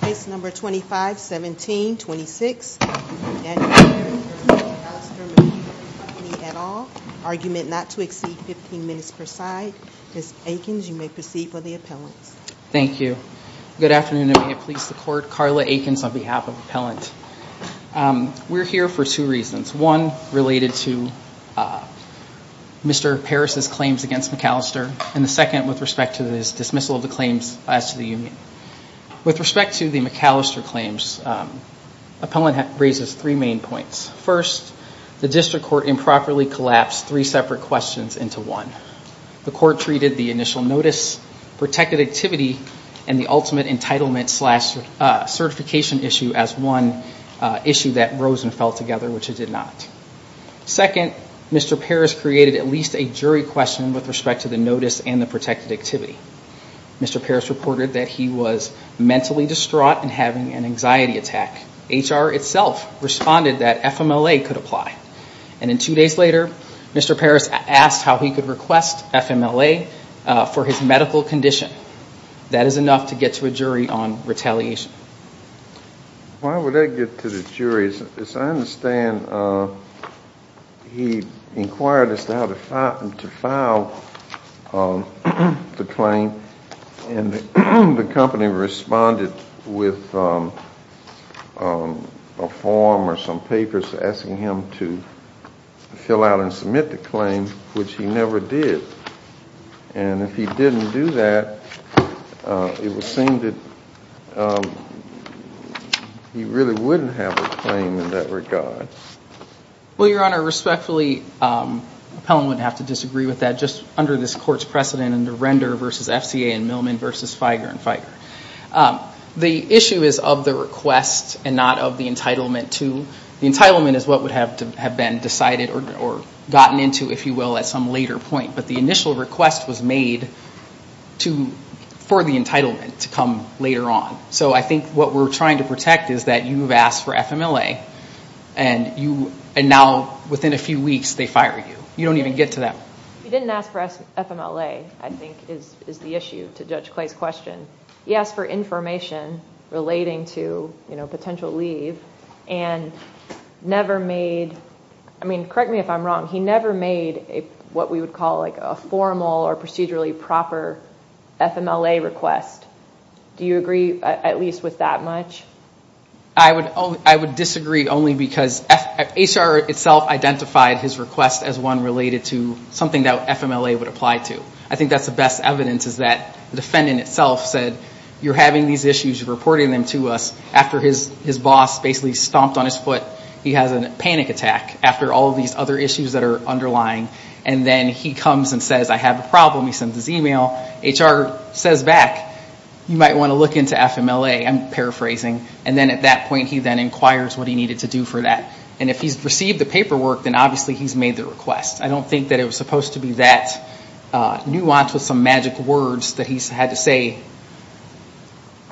Case number 25-17-26, Daniel Paris v. Macallister Machinery Company et al. Argument not to exceed 15 minutes per side. Ms. Eakins, you may proceed for the appellants. Thank you. Good afternoon and may it please the Court. Carla Eakins on behalf of Appellant. We're here for two reasons. One, related to Mr. Paris' claims against Macallister. And the second, with respect to his dismissal of the claims as to the union. With respect to the Macallister claims, appellant raises three main points. First, the district court improperly collapsed three separate questions into one. The court treated the initial notice, protected activity, and the ultimate entitlement slash certification issue as one issue that rose and fell together, which it did not. Second, Mr. Paris created at least a jury question with respect to the notice and the protected activity. Mr. Paris reported that he was mentally distraught and having an anxiety attack. HR itself responded that FMLA could apply. And then two days later, Mr. Paris asked how he could request FMLA for his medical condition. That is enough to get to a jury on retaliation. Why would I get to the jury? As I understand, he inquired as to how to file the claim. And the company responded with a form or some papers asking him to fill out and submit the claim, which he never did. And if he didn't do that, it would seem that he really wouldn't have a claim in that regard. Well, Your Honor, respectfully, appellant would have to disagree with that just under this court's precedent under Render v. FCA and Millman v. Feiger and Feiger. The issue is of the request and not of the entitlement to. The entitlement is what would have been decided or gotten into, if you will, at some later point. But the initial request was made for the entitlement to come later on. So I think what we're trying to protect is that you've asked for FMLA and now within a few weeks they fire you. You don't even get to that point. He didn't ask for FMLA, I think, is the issue to Judge Clay's question. He asked for information relating to potential leave and never made – I mean, correct me if I'm wrong – he never made what we would call a formal or procedurally proper FMLA request. Do you agree at least with that much? I would disagree only because HR itself identified his request as one related to something that FMLA would apply to. I think that's the best evidence is that the defendant itself said, you're having these issues, you're reporting them to us, after his boss basically stomped on his foot, he has a panic attack after all of these other issues that are underlying. And then he comes and says, I have a problem. He sends his email. HR says back, you might want to look into FMLA. I'm paraphrasing. And then at that point he then inquires what he needed to do for that. And if he's received the paperwork, then obviously he's made the request. I don't think that it was supposed to be that nuanced with some magic words that he's had to say.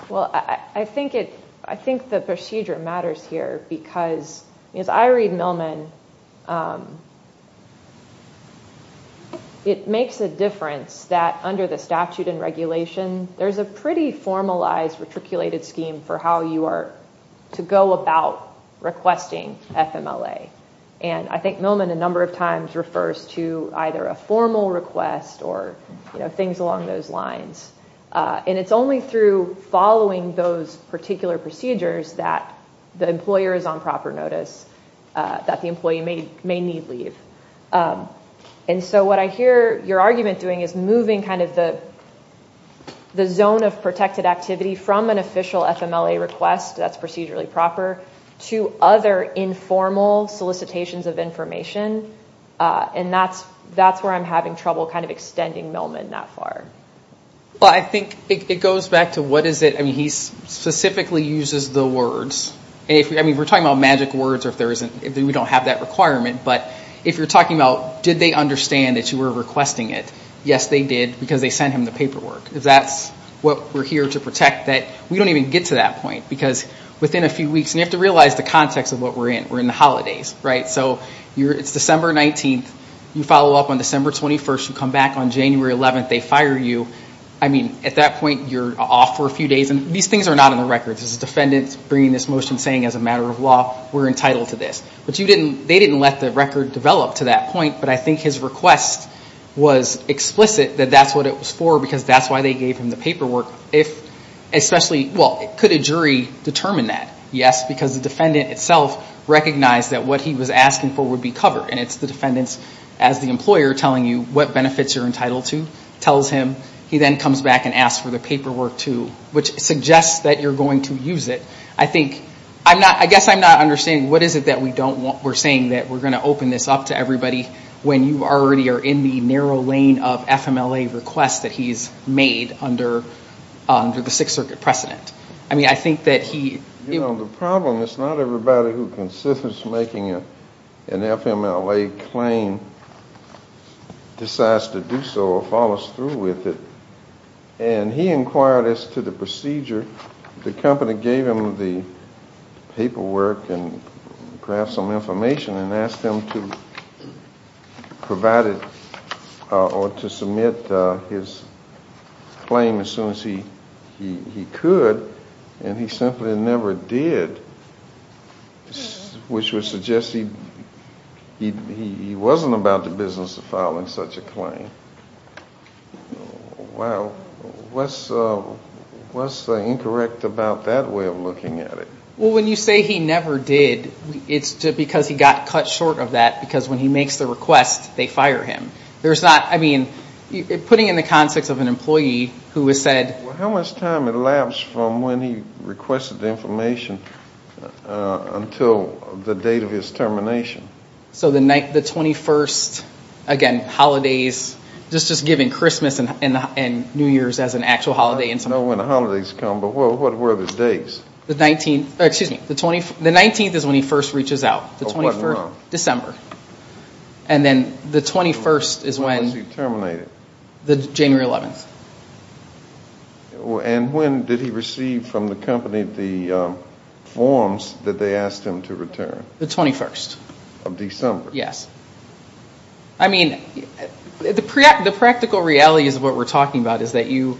Well, I think the procedure matters here because as I read Millman, it makes a difference that under the statute and regulation, there's a pretty formalized, retriculated scheme for how you are to go about requesting FMLA. And I think Millman a number of times refers to either a formal request or things along those lines. And it's only through following those particular procedures that the employer is on proper notice, that the employee may need leave. And so what I hear your argument doing is moving kind of the zone of protected activity from an official FMLA request that's procedurally proper to other informal solicitations of information. And that's where I'm having trouble kind of extending Millman that far. Well, I think it goes back to what is it? I mean, he specifically uses the words. I mean, we're talking about magic words if we don't have that requirement. But if you're talking about did they understand that you were requesting it, yes, they did, because they sent him the paperwork. If that's what we're here to protect, we don't even get to that point. Because within a few weeks, and you have to realize the context of what we're in. We're in the holidays. Right? So it's December 19th. You follow up on December 21st. You come back on January 11th. They fire you. I mean, at that point, you're off for a few days. And these things are not in the records. It's the defendant bringing this motion saying as a matter of law, we're entitled to this. But they didn't let the record develop to that point. But I think his request was explicit that that's what it was for because that's why they gave him the paperwork. Especially, well, could a jury determine that? Yes, because the defendant itself recognized that what he was asking for would be covered. And it's the defendants as the employer telling you what benefits you're entitled to. Tells him. He then comes back and asks for the paperwork, too, which suggests that you're going to use it. I guess I'm not understanding what is it that we're saying that we're going to open this up to everybody when you already are in the narrow lane of FMLA requests that he's made under the Sixth Circuit precedent. I mean, I think that he— You know, the problem is not everybody who considers making an FMLA claim decides to do so or follows through with it. And he inquired as to the procedure. The company gave him the paperwork and perhaps some information and asked him to provide it or to submit his claim as soon as he could. And he simply never did, which would suggest he wasn't about the business of filing such a claim. Wow. What's incorrect about that way of looking at it? Well, when you say he never did, it's because he got cut short of that because when he makes the request, they fire him. There's not—I mean, putting it in the context of an employee who has said— Well, how much time elapsed from when he requested the information until the date of his termination? So the 21st, again, holidays, just giving Christmas and New Year's as an actual holiday. I don't know when the holidays come, but what were the dates? The 19th is when he first reaches out. Oh, what month? December. And then the 21st is when— When was he terminated? January 11th. And when did he receive from the company the forms that they asked him to return? The 21st. Of December. Yes. I mean, the practical reality is what we're talking about is that you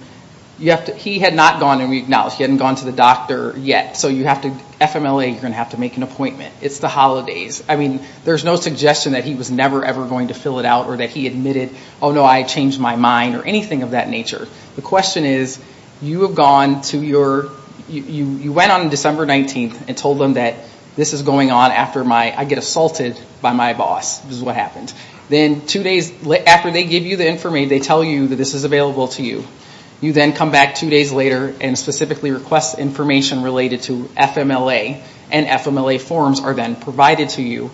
have to—he had not gone to the doctor yet, so you have to—FMLA, you're going to have to make an appointment. It's the holidays. I mean, there's no suggestion that he was never, ever going to fill it out or that he admitted, oh, no, I changed my mind or anything of that nature. The question is you have gone to your—you went on December 19th and told them that this is going on after I get assaulted by my boss. This is what happened. Then two days after they give you the information, they tell you that this is available to you. You then come back two days later and specifically request information related to FMLA, and FMLA forms are then provided to you.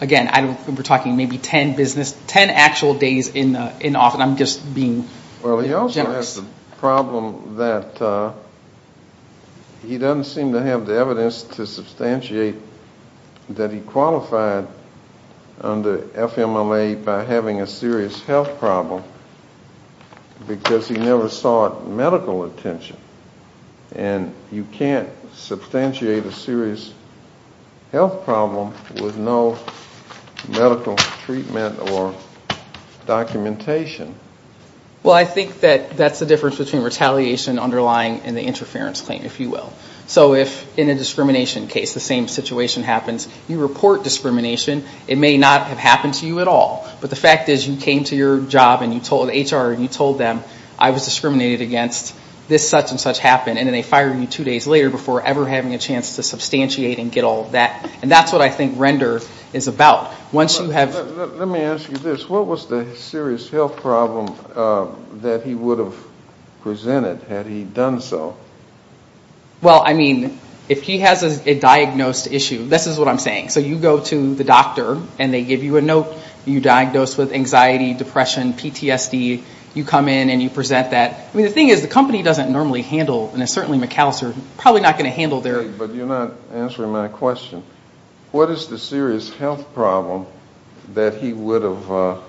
Again, we're talking maybe 10 business—10 actual days in office. I'm just being generous. Well, he also has the problem that he doesn't seem to have the evidence to substantiate that he qualified under FMLA by having a serious health problem because he never sought medical attention. And you can't substantiate a serious health problem with no medical treatment or documentation. Well, I think that that's the difference between retaliation underlying and the interference claim, if you will. So if in a discrimination case the same situation happens, you report discrimination. It may not have happened to you at all, but the fact is you came to your job and you told HR and you told them I was discriminated against, this such and such happened, and then they fire you two days later before ever having a chance to substantiate and get all of that. And that's what I think render is about. Let me ask you this. What was the serious health problem that he would have presented had he done so? Well, I mean, if he has a diagnosed issue, this is what I'm saying. So you go to the doctor and they give you a note. You're diagnosed with anxiety, depression, PTSD. You come in and you present that. I mean, the thing is the company doesn't normally handle, and certainly McAllister, probably not going to handle their... But you're not answering my question. What is the serious health problem that he would have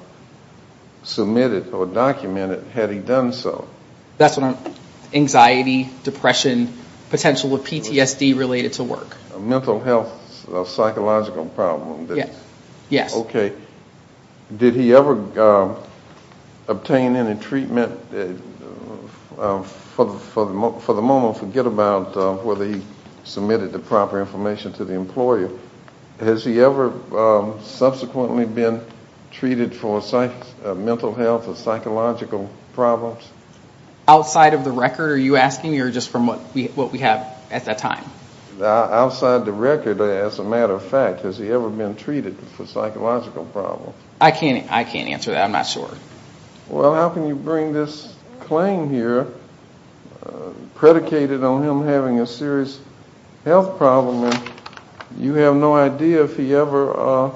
submitted or documented had he done so? That's what I'm, anxiety, depression, potential of PTSD related to work. Mental health, psychological problem. Yes. Okay. Did he ever obtain any treatment? For the moment, forget about whether he submitted the proper information to the employer. Has he ever subsequently been treated for mental health or psychological problems? Outside of the record, are you asking, or just from what we have at that time? Outside the record, as a matter of fact, has he ever been treated for psychological problems? I can't answer that. I'm not sure. Well, how can you bring this claim here, predicated on him having a serious health problem, and you have no idea if he ever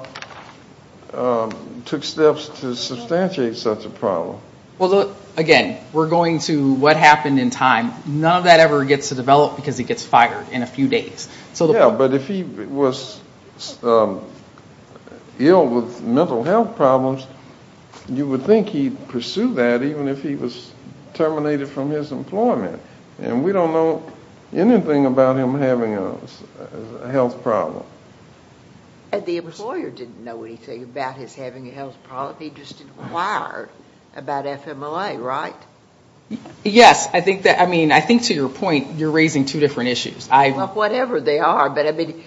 took steps to substantiate such a problem? Well, again, we're going to what happened in time. None of that ever gets to develop because he gets fired in a few days. Yeah, but if he was ill with mental health problems, you would think he'd pursue that even if he was terminated from his employment. And we don't know anything about him having a health problem. The employer didn't know anything about his having a health problem. He just inquired about FMLA, right? Yes. I mean, I think to your point, you're raising two different issues. Well, whatever they are. But, I mean,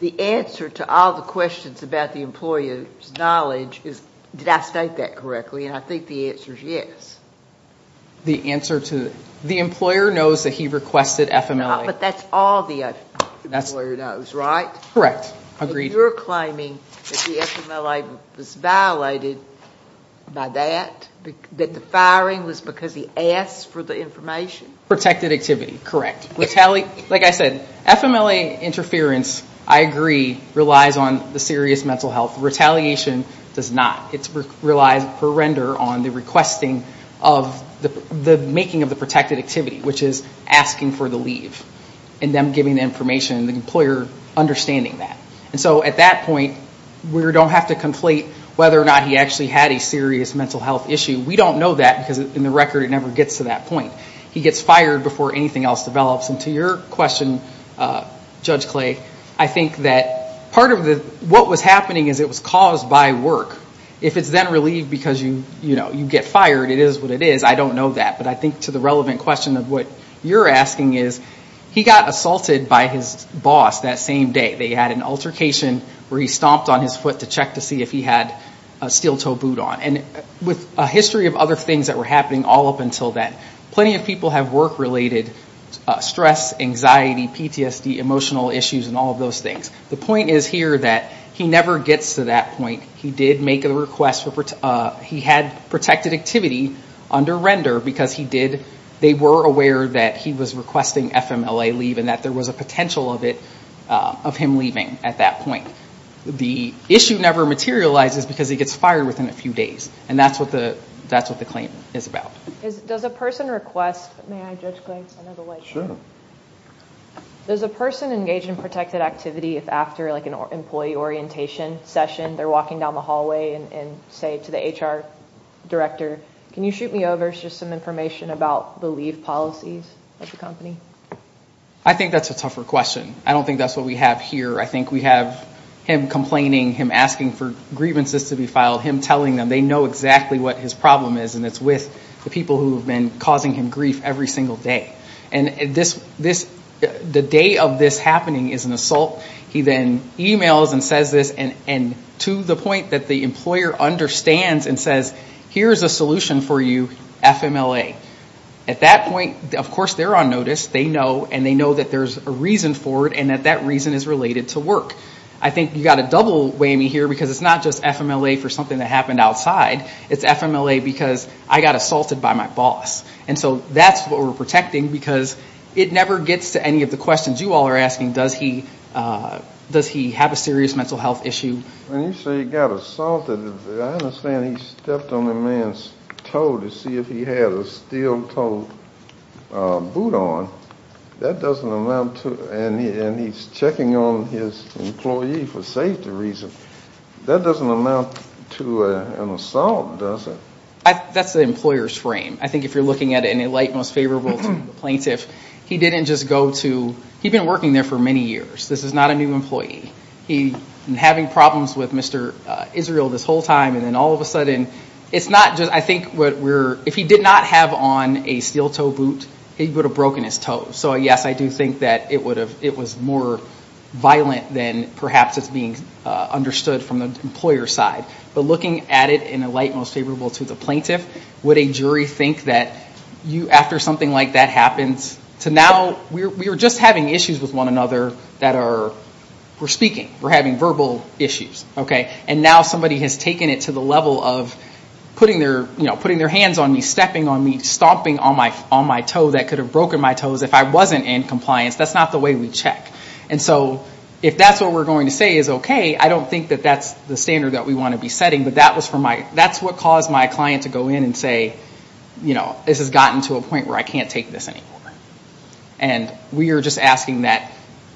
the answer to all the questions about the employer's knowledge is, did I state that correctly? And I think the answer is yes. The employer knows that he requested FMLA. But that's all the employer knows, right? Correct. Agreed. So you're claiming that the FMLA was violated by that, that the firing was because he asked for the information? Protected activity. Correct. Like I said, FMLA interference, I agree, relies on the serious mental health. Retaliation does not. It relies per render on the requesting of the making of the protected activity, which is asking for the leave and them giving the information and the employer understanding that. And so at that point, we don't have to conflate whether or not he actually had a serious mental health issue. We don't know that because, in the record, it never gets to that point. He gets fired before anything else develops. And to your question, Judge Clay, I think that part of what was happening is it was caused by work. If it's then relieved because you get fired, it is what it is. I don't know that. But I think to the relevant question of what you're asking is, he got assaulted by his boss that same day. They had an altercation where he stomped on his foot to check to see if he had a steel-toe boot on. And with a history of other things that were happening all up until then, plenty of people have work-related stress, anxiety, PTSD, emotional issues, and all of those things. The point is here that he never gets to that point. He did make a request. He had protected activity under render because he did. They were aware that he was requesting FMLA leave and that there was a potential of him leaving at that point. The issue never materializes because he gets fired within a few days. And that's what the claim is about. Does a person engage in protected activity if after an employee orientation session they're walking down the hallway and say to the HR director, can you shoot me over just some information about the leave policies of the company? I think that's a tougher question. I don't think that's what we have here. I think we have him complaining, him asking for grievances to be filed, him telling them they know exactly what his problem is and it's with the people who have been causing him grief every single day. And the day of this happening is an assault. He then emails and says this and to the point that the employer understands and says here's a solution for you, FMLA. At that point, of course, they're on notice, they know, and they know that there's a reason for it and that that reason is related to work. I think you've got to double whammy here because it's not just FMLA for something that happened outside. It's FMLA because I got assaulted by my boss. And so that's what we're protecting because it never gets to any of the questions you all are asking, does he have a serious mental health issue. When you say he got assaulted, I understand he stepped on a man's toe to see if he had a steel-toed boot on. That doesn't amount to, and he's checking on his employee for safety reasons. That doesn't amount to an assault, does it? That's the employer's frame. I think if you're looking at it in a light most favorable to the plaintiff, he didn't just go to, he'd been working there for many years. This is not a new employee. He's been having problems with Mr. Israel this whole time, and then all of a sudden, it's not just, I think, if he did not have on a steel-toed boot, he would have broken his toe. So, yes, I do think that it was more violent than perhaps it's being understood from the employer's side. But looking at it in a light most favorable to the plaintiff, would a jury think that after something like that happens, we're just having issues with one another that are, we're speaking. We're having verbal issues. And now somebody has taken it to the level of putting their hands on me, stepping on me, stomping on my toe that could have broken my toes if I wasn't in compliance. That's not the way we check. And so if that's what we're going to say is okay, I don't think that that's the standard that we want to be setting. But that's what caused my client to go in and say, this has gotten to a point where I can't take this anymore. And we are just asking that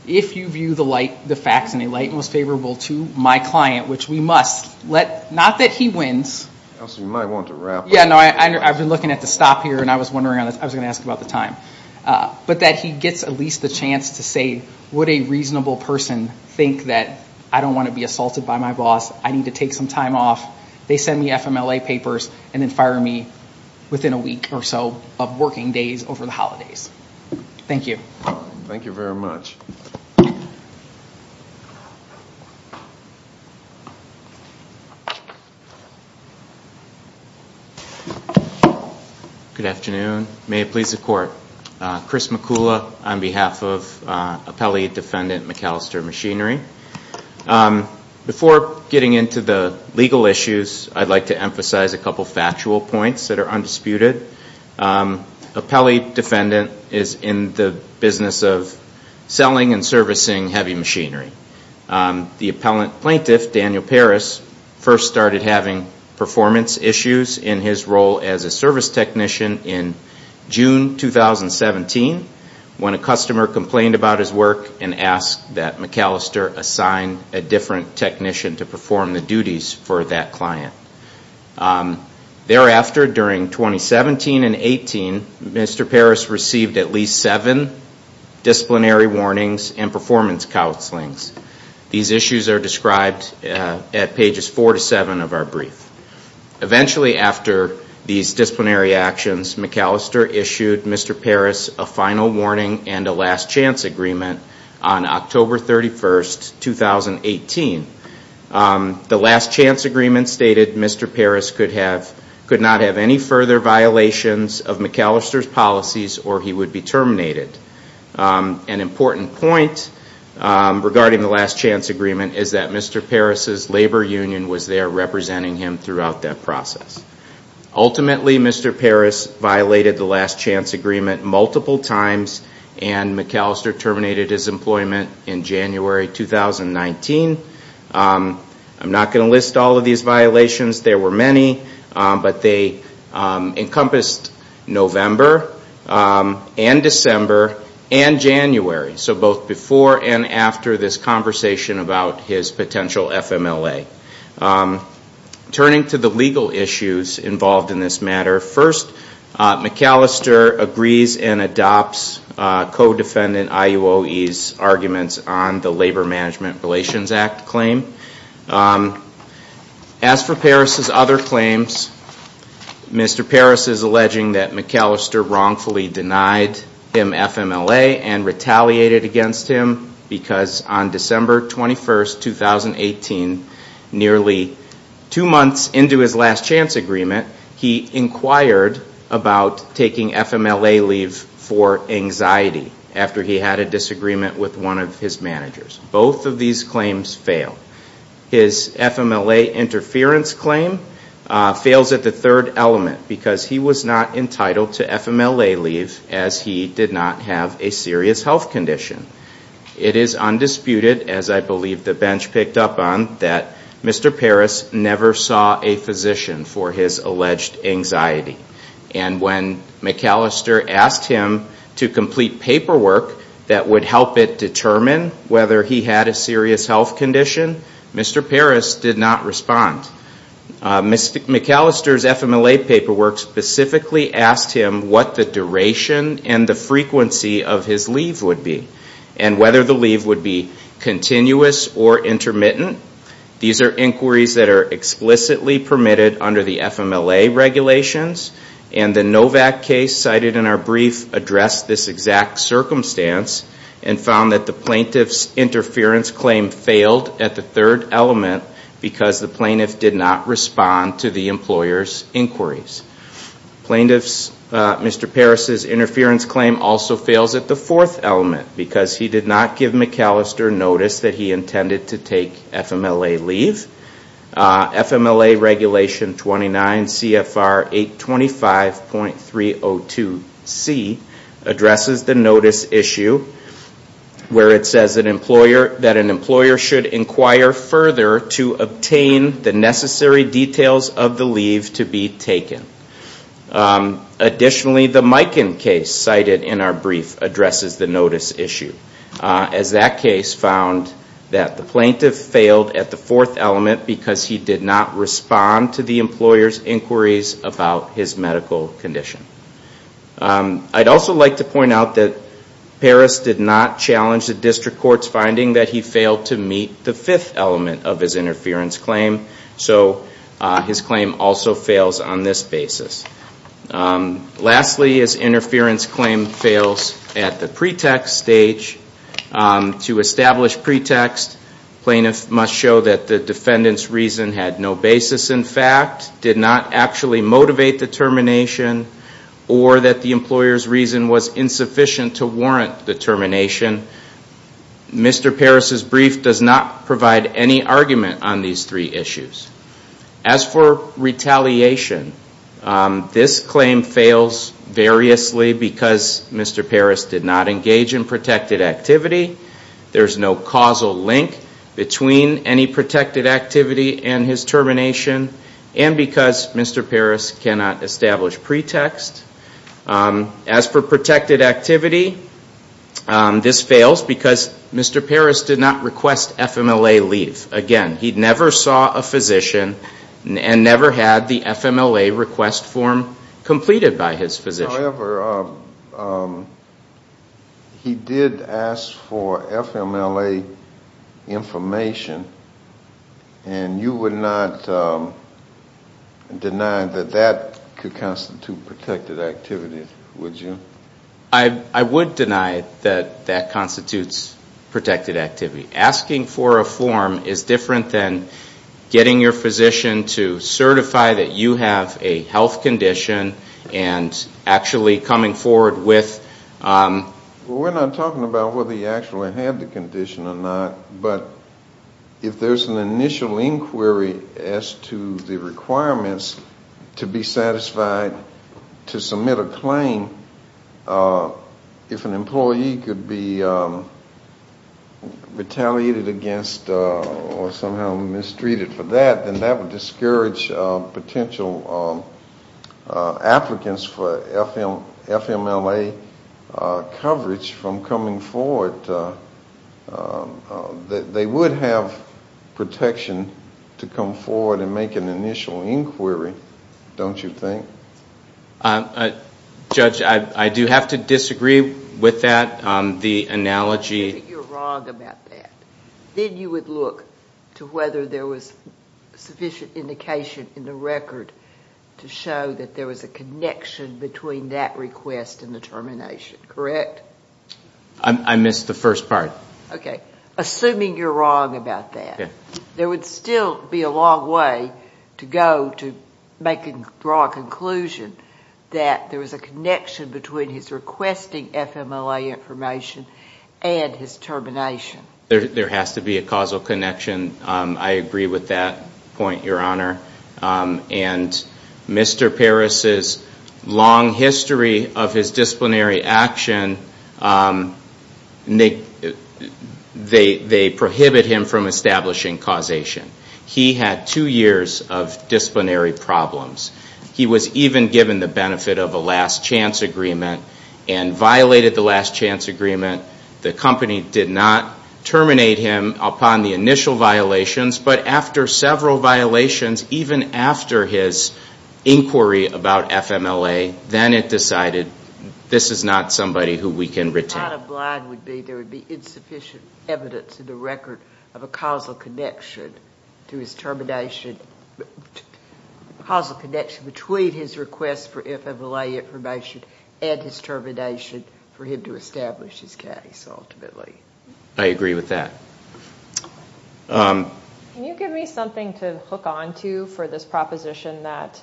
if you view the facts in a light most favorable to my client, which we must, not that he wins. You might want to wrap up. I've been looking at the stop here, and I was wondering, I was going to ask about the time. But that he gets at least the chance to say, would a reasonable person think that I don't want to be assaulted by my boss, I need to take some time off, they send me FMLA papers, and then fire me within a week or so of working days over the holidays. Thank you. Thank you very much. Good afternoon. May it please the Court. Chris McCullough on behalf of Appellee Defendant McAllister Machinery. Before getting into the legal issues, I'd like to emphasize a couple of factual points that are undisputed. Appellee Defendant is in the business of selling and servicing heavy machinery. The plaintiff, Daniel Paris, first started having performance issues in his role as a service technician in June 2017, when a customer complained about his work and asked that McAllister assign a different technician to perform the duties for that client. Thereafter, during 2017 and 2018, Mr. Paris received at least seven disciplinary warnings and performance counselings. These issues are described at pages four to seven of our brief. Eventually, after these disciplinary actions, McAllister issued Mr. Paris a final warning and a last chance agreement on October 31, 2018. The last chance agreement stated Mr. Paris could not have any further violations of McAllister's policies or he would be terminated. An important point regarding the last chance agreement is that Mr. Paris' labor union was there representing him throughout that process. Ultimately, Mr. Paris violated the last chance agreement multiple times and McAllister terminated his employment in January 2019. I'm not going to list all of these violations. There were many, but they encompassed November and December and January, so both before and after this conversation about his potential FMLA. Turning to the legal issues involved in this matter, first McAllister agrees and adopts co-defendant IUOE's arguments on the Labor Management Relations Act claim. As for Paris' other claims, Mr. Paris is alleging that McAllister wrongfully denied him FMLA and retaliated against him because on December 21, 2018, nearly two months into his last chance agreement, he inquired about taking FMLA leave for anxiety after he had a disagreement with one of his managers. Both of these claims fail. His FMLA interference claim fails at the third element because he was not entitled to FMLA leave as he did not have a serious health condition. It is undisputed, as I believe the bench picked up on, that Mr. Paris never saw a physician for his alleged anxiety. And when McAllister asked him to complete paperwork that would help it determine whether he had a serious health condition, Mr. Paris did not respond. McAllister's FMLA paperwork specifically asked him what the duration and the frequency of his leave would be and whether the leave would be continuous or intermittent. These are inquiries that are explicitly permitted under the FMLA regulations, and the Novak case cited in our brief addressed this exact circumstance and found that the plaintiff's interference claim failed at the third element because the plaintiff did not respond to the employer's inquiries. Mr. Paris' interference claim also fails at the fourth element because he did not give McAllister notice that he intended to take FMLA leave. FMLA Regulation 29 CFR 825.302C addresses the notice issue where it says that an employer should inquire further to obtain the necessary details of the leave to be taken. Additionally, the Mikan case cited in our brief addresses the notice issue as that case found that the plaintiff failed at the fourth element because he did not respond to the employer's inquiries about his medical condition. I'd also like to point out that Paris did not challenge the district court's finding that he failed to meet the fifth element of his interference claim, so his claim also fails on this basis. Lastly, his interference claim fails at the pretext stage. To establish pretext, plaintiffs must show that the defendant's reason had no basis in fact, did not actually motivate the termination, or that the employer's reason was insufficient to warrant the termination. Mr. Paris' brief does not provide any argument on these three issues. As for retaliation, this claim fails variously because Mr. Paris did not engage in protected activity. There's no causal link between any protected activity and his termination, and because Mr. Paris cannot establish pretext. As for protected activity, this fails because Mr. Paris did not request FMLA leave. Again, he never saw a physician and never had the FMLA request form completed by his physician. However, he did ask for FMLA information, and you would not deny that that could constitute protected activity, would you? I would deny that that constitutes protected activity. Asking for a form is different than getting your physician to certify that you have a health condition and actually coming forward with... We're not talking about whether he actually had the condition or not, but if there's an initial inquiry as to the requirements to be satisfied to submit a claim, if an employee could be retaliated against or somehow mistreated for that, then that would discourage potential applicants for FMLA coverage from coming forward. They would have protection to come forward and make an initial inquiry, don't you think? Judge, I do have to disagree with that. The analogy... I think you're wrong about that. Then you would look to whether there was sufficient indication in the record to show that there was a connection between that request and the termination, correct? I missed the first part. Okay. Assuming you're wrong about that, there would still be a long way to go to draw a conclusion that there was a connection between his requesting FMLA information and his termination. There has to be a causal connection. I agree with that point, Your Honor. And Mr. Parris's long history of his disciplinary action, they prohibit him from establishing causation. He had two years of disciplinary problems. He was even given the benefit of a last chance agreement and violated the last chance agreement. The company did not terminate him upon the initial violations, but after several violations, even after his inquiry about FMLA, then it decided this is not somebody who we can retain. Your point of blind would be there would be insufficient evidence in the record of a causal connection to his termination, a causal connection between his request for FMLA information and his termination for him to establish his case ultimately. I agree with that. Can you give me something to hook onto for this proposition that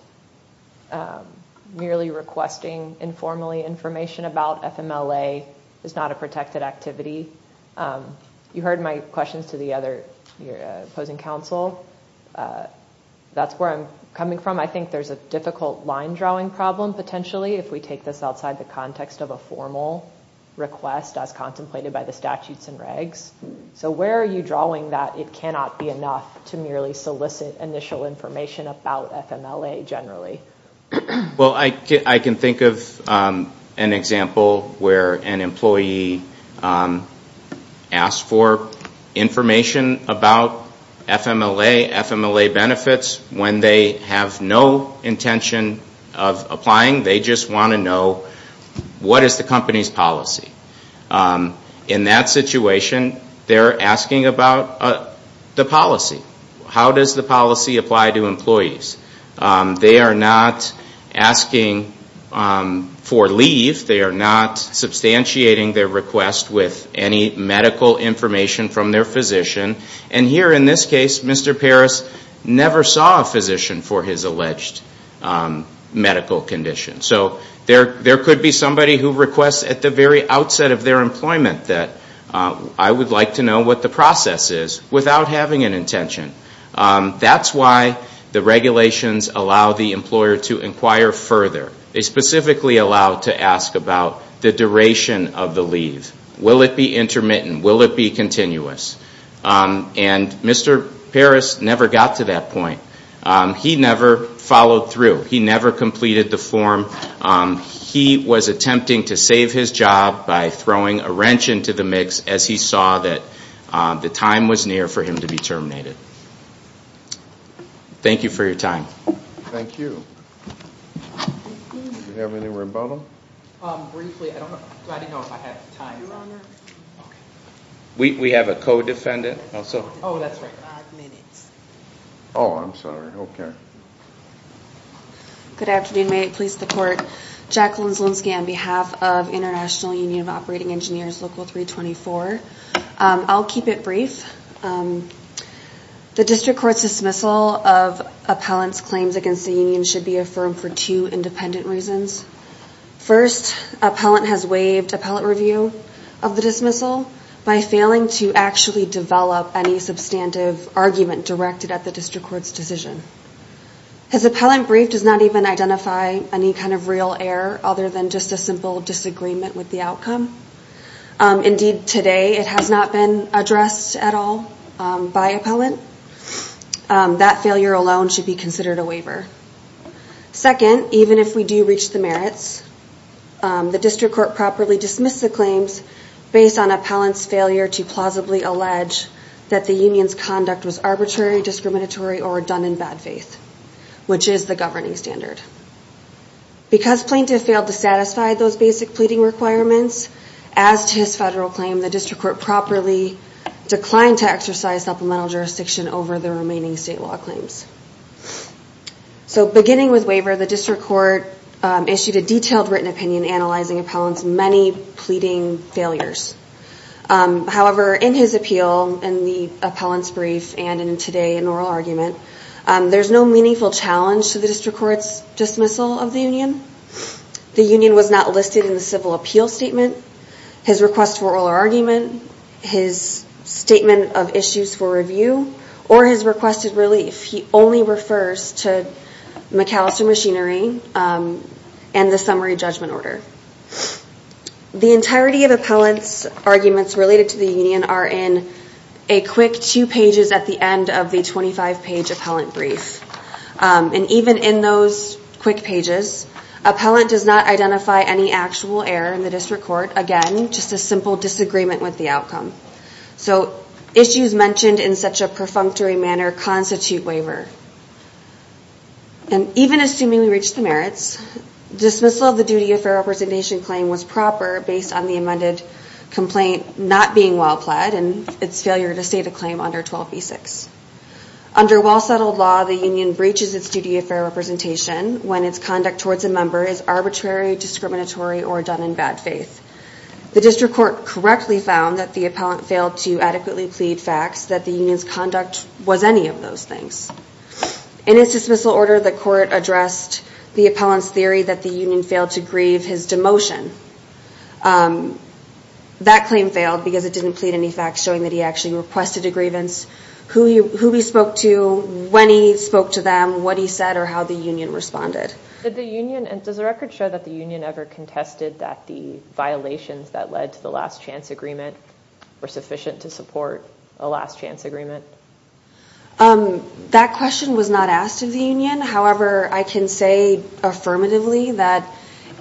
merely requesting informally information about FMLA is not a protected activity? You heard my questions to the other opposing counsel. That's where I'm coming from. I think there's a difficult line drawing problem, potentially, if we take this outside the context of a formal request as contemplated by the statutes and regs. So where are you drawing that it cannot be enough to merely solicit initial information about FMLA generally? Well, I can think of an example where an employee asked for information about FMLA, FMLA benefits, when they have no intention of applying, they just want to know what is the company's policy. In that situation, they're asking about the policy. How does the policy apply to employees? They are not asking for leave. They are not substantiating their request with any medical information from their physician. And here in this case, Mr. Parris never saw a physician for his alleged medical condition. So there could be somebody who requests at the very outset of their employment that I would like to know what the process is without having an intention. That's why the regulations allow the employer to inquire further. They specifically allow to ask about the duration of the leave. Will it be intermittent? Will it be continuous? And Mr. Parris never got to that point. He never followed through. He never completed the form. He was attempting to save his job by throwing a wrench into the mix as he saw that the time was near for him to be terminated. Thank you for your time. Thank you. Do we have any rebuttal? Briefly, I didn't know if I had time. We have a co-defendant. Oh, that's right. Five minutes. Oh, I'm sorry. Okay. Good afternoon. May it please the Court. Jacqueline Zielinski on behalf of International Union of Operating Engineers, Local 324. I'll keep it brief. The district court's dismissal of appellant's claims against the union should be affirmed for two independent reasons. First, appellant has waived appellate review of the dismissal by failing to actually develop any substantive argument directed at the district court's decision. His appellant brief does not even identify any kind of real error other than just a simple disagreement with the outcome. Indeed, today it has not been addressed at all by appellant. That failure alone should be considered a waiver. Second, even if we do reach the merits, the district court properly dismissed the claims based on appellant's failure to plausibly allege that the union's conduct was arbitrary, discriminatory, or redundant in bad faith, which is the governing standard. Because plaintiff failed to satisfy those basic pleading requirements, as to his federal claim, the district court properly declined to exercise supplemental jurisdiction over the remaining state law claims. So beginning with waiver, the district court issued a detailed written opinion analyzing appellant's many pleading failures. However, in his appeal, in the appellant's brief, and in today's oral argument, there's no meaningful challenge to the district court's dismissal of the union. The union was not listed in the civil appeal statement, his request for oral argument, his statement of issues for review, or his requested relief. He only refers to McAllister machinery and the summary judgment order. The entirety of appellant's arguments related to the union are in a quick two pages at the end of the 25 page appellant brief. And even in those quick pages, appellant does not identify any actual error in the district court. Again, just a simple disagreement with the outcome. So issues mentioned in such a perfunctory manner constitute waiver. And even assuming we reached the merits, dismissal of the duty of fair representation claim was proper based on the amended complaint not being well-pled and its failure to state a claim under 12b6. Under well-settled law, the union breaches its duty of fair representation when its conduct towards a member is arbitrary, discriminatory, or done in bad faith. The district court correctly found that the appellant failed to adequately plead facts that the union's conduct was any of those things. In its dismissal order, the court addressed the appellant's theory that the union failed to grieve his demotion. That claim failed because it didn't plead any facts showing that he actually requested a grievance, who he spoke to, when he spoke to them, what he said, or how the union responded. Does the record show that the union ever contested that the violations that led to the last chance agreement were sufficient to support a last chance agreement? That question was not asked of the union. However, I can say affirmatively that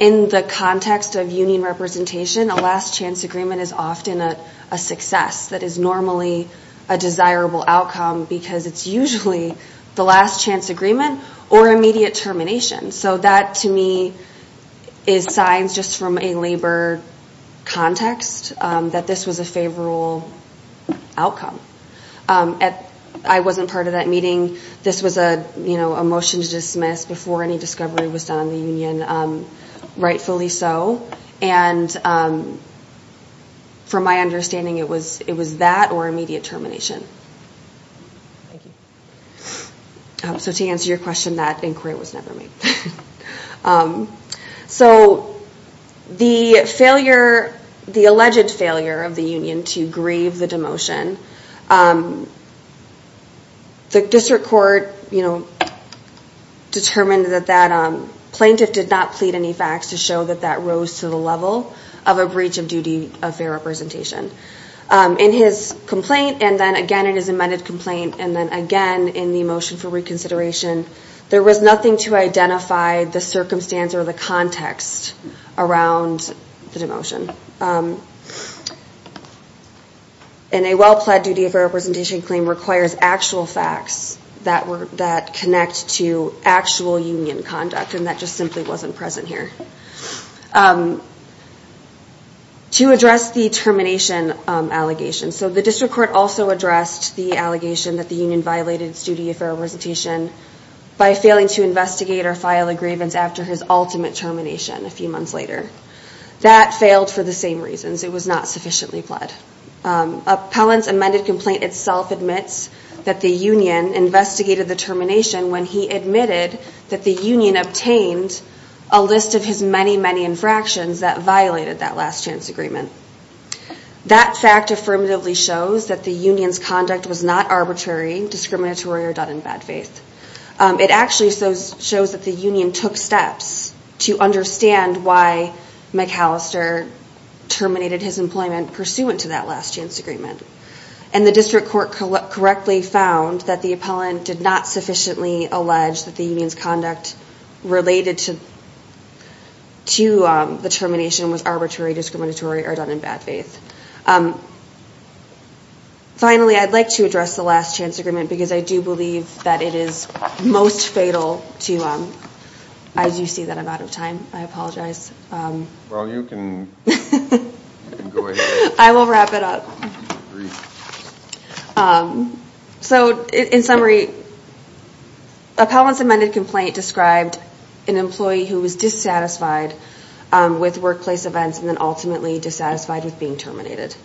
in the context of union representation, a last chance agreement is often a success that is normally a desirable outcome because it's usually the last chance agreement or immediate termination. So that, to me, is signs just from a labor context that this was a favorable outcome. I wasn't part of that meeting. This was a motion to dismiss before any discovery was done on the union, rightfully so. And from my understanding, it was that or immediate termination. So to answer your question, that inquiry was never made. So the alleged failure of the union to grieve the demotion, the district court determined that that plaintiff did not plead any facts to show that that rose to the level of a breach of duty of fair representation. In his complaint, and then again in his amended complaint, and then again in the motion for reconsideration, there was nothing to identify the circumstance or the context around the demotion. And a well-pled duty of fair representation claim requires actual facts that connect to actual union conduct, and that just simply wasn't present here. To address the termination allegation, so the district court also addressed the allegation that the union violated its duty of fair representation by failing to investigate or file a grievance after his ultimate termination a few months later. That failed for the same reasons. It was not sufficiently pled. Appellant's amended complaint itself admits that the union investigated the termination when he admitted that the union obtained a list of his many, many infractions that violated that last chance agreement. That fact affirmatively shows that the union's conduct was not arbitrary, discriminatory, or done in bad faith. It actually shows that the union took steps to understand why McAllister terminated his employment pursuant to that last chance agreement. And the district court correctly found that the appellant did not sufficiently allege that the union's conduct related to the termination was arbitrary, discriminatory, or done in bad faith. Finally, I'd like to address the last chance agreement because I do believe that it is most fatal to... I do see that I'm out of time. I apologize. Well, you can go ahead. I will wrap it up. So, in summary, appellant's amended complaint described an employee who was dissatisfied with workplace events and then ultimately dissatisfied with being terminated.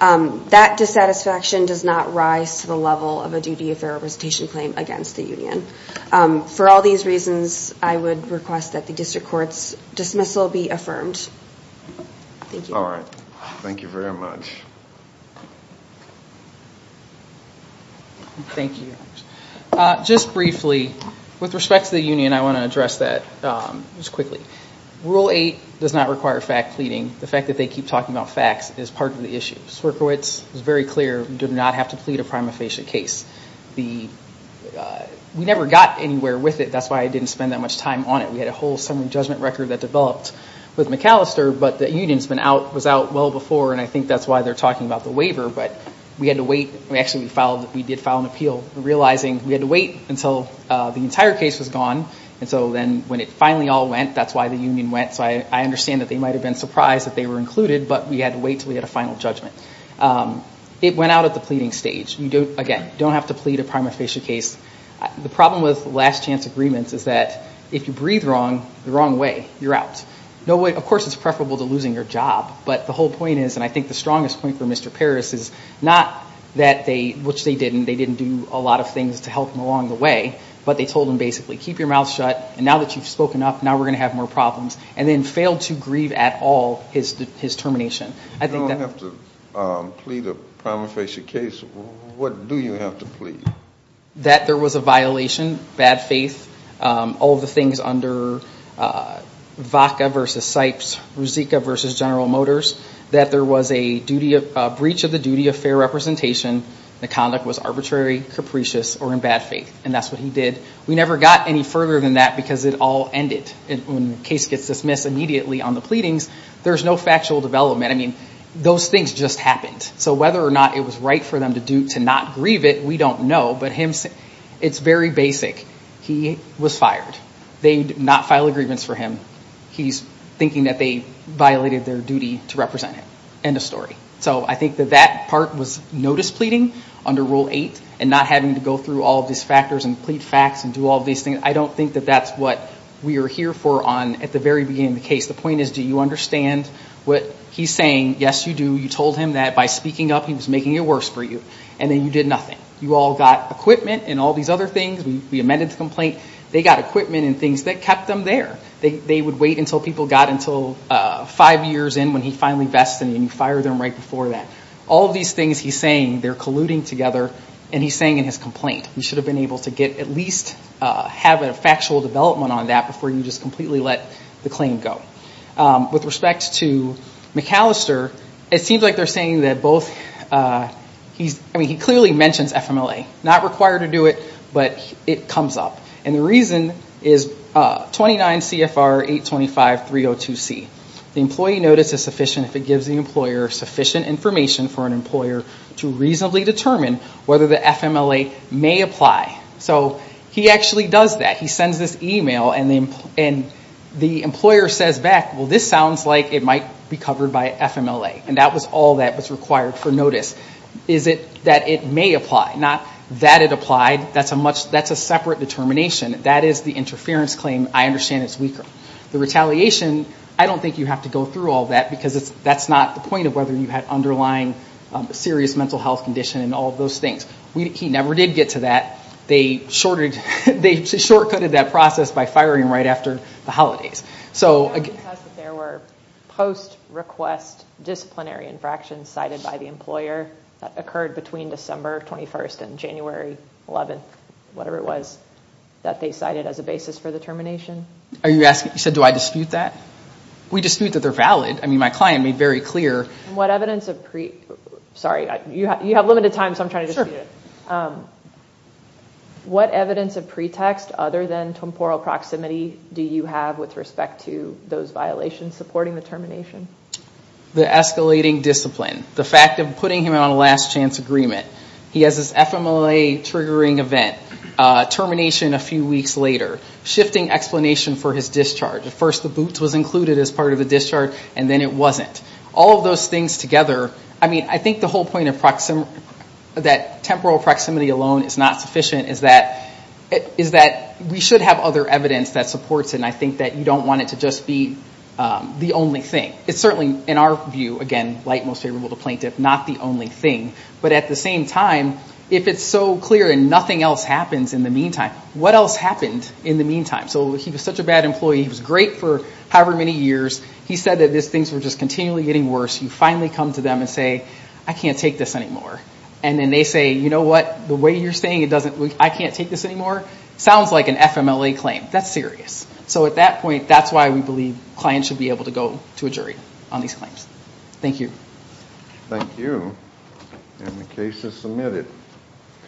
That dissatisfaction does not rise to the level of a duty of fair representation claim against the union. For all these reasons, I would request that the district court's dismissal be affirmed. Thank you. All right. Thank you very much. Thank you. Just briefly, with respect to the union, I want to address that just quickly. Rule 8 does not require fact pleading. The fact that they keep talking about facts is part of the issue. Swerkowitz was very clear. We do not have to plead a prima facie case. We never got anywhere with it. That's why I didn't spend that much time on it. We had a whole summary judgment record that developed with McAllister, but the union was out well before, and I think that's why they're talking about the waiver. But we had to wait. Actually, we did file an appeal, realizing we had to wait until the entire case was gone. And so then when it finally all went, that's why the union went. So I understand that they might have been surprised that they were included, but we had to wait until we had a final judgment. It went out at the pleading stage. Again, you don't have to plead a prima facie case. The problem with last chance agreements is that if you breathe wrong, the wrong way, you're out. Of course, it's preferable to losing your job, but the whole point is, and I think the strongest point for Mr. Parris is not that they, which they didn't, they didn't do a lot of things to help him along the way, but they told him basically keep your mouth shut, and now that you've spoken up, now we're going to have more problems, and then failed to grieve at all his termination. You don't have to plead a prima facie case. What do you have to plead? That there was a violation, bad faith, all the things under VOCA versus SIPES, Ruzicka versus General Motors, that there was a breach of the duty of fair representation, the conduct was arbitrary, capricious, or in bad faith. And that's what he did. We never got any further than that because it all ended. When the case gets dismissed immediately on the pleadings, there's no factual development. I mean, those things just happened. So whether or not it was right for them to not grieve it, we don't know. But it's very basic. He was fired. They did not file a grievance for him. He's thinking that they violated their duty to represent him. End of story. So I think that that part was notice pleading under Rule 8, and not having to go through all of these factors and plead facts and do all of these things, I don't think that that's what we are here for at the very beginning of the case. The point is, do you understand what he's saying? Yes, you do. You told him that by speaking up, he was making it worse for you. And then you did nothing. You all got equipment and all these other things. We amended the complaint. They got equipment and things that kept them there. They would wait until people got until five years in when he finally vested, and you fired them right before that. All of these things he's saying, they're colluding together. And he's saying in his complaint, we should have been able to get at least have a factual development on that where you just completely let the claim go. With respect to McAllister, it seems like they're saying that both, he clearly mentions FMLA. Not required to do it, but it comes up. And the reason is 29 CFR 825.302c. The employee notice is sufficient if it gives the employer sufficient information for an employer to reasonably determine whether the FMLA may apply. So he actually does that. He sends this email, and the employer says back, well, this sounds like it might be covered by FMLA. And that was all that was required for notice. Is it that it may apply? Not that it applied. That's a separate determination. That is the interference claim. I understand it's weaker. The retaliation, I don't think you have to go through all that because that's not the point of whether you had underlying serious mental health condition and all of those things. He never did get to that. They short-cutted that process by firing him right after the holidays. There were post-request disciplinary infractions cited by the employer that occurred between December 21st and January 11th, whatever it was, that they cited as a basis for the termination. You said, do I dispute that? We dispute that they're valid. I mean, my client made very clear. Sorry, you have limited time, so I'm trying to dispute it. What evidence of pretext other than temporal proximity do you have with respect to those violations supporting the termination? The escalating discipline. The fact of putting him on a last-chance agreement. He has this FMLA-triggering event. Termination a few weeks later. Shifting explanation for his discharge. At first the boots was included as part of the discharge, and then it wasn't. All of those things together, I mean, I think the whole point that temporal proximity alone is not sufficient is that we should have other evidence that supports it, and I think that you don't want it to just be the only thing. It's certainly, in our view, again, light, most favorable to plaintiff, not the only thing. But at the same time, if it's so clear and nothing else happens in the meantime, what else happened in the meantime? So he was such a bad employee. He was great for however many years. He said that things were just continually getting worse. You finally come to them and say, I can't take this anymore. And then they say, you know what? The way you're saying I can't take this anymore sounds like an FMLA claim. That's serious. So at that point, that's why we believe clients should be able to go to a jury on these claims. Thank you. Thank you. And the case is submitted.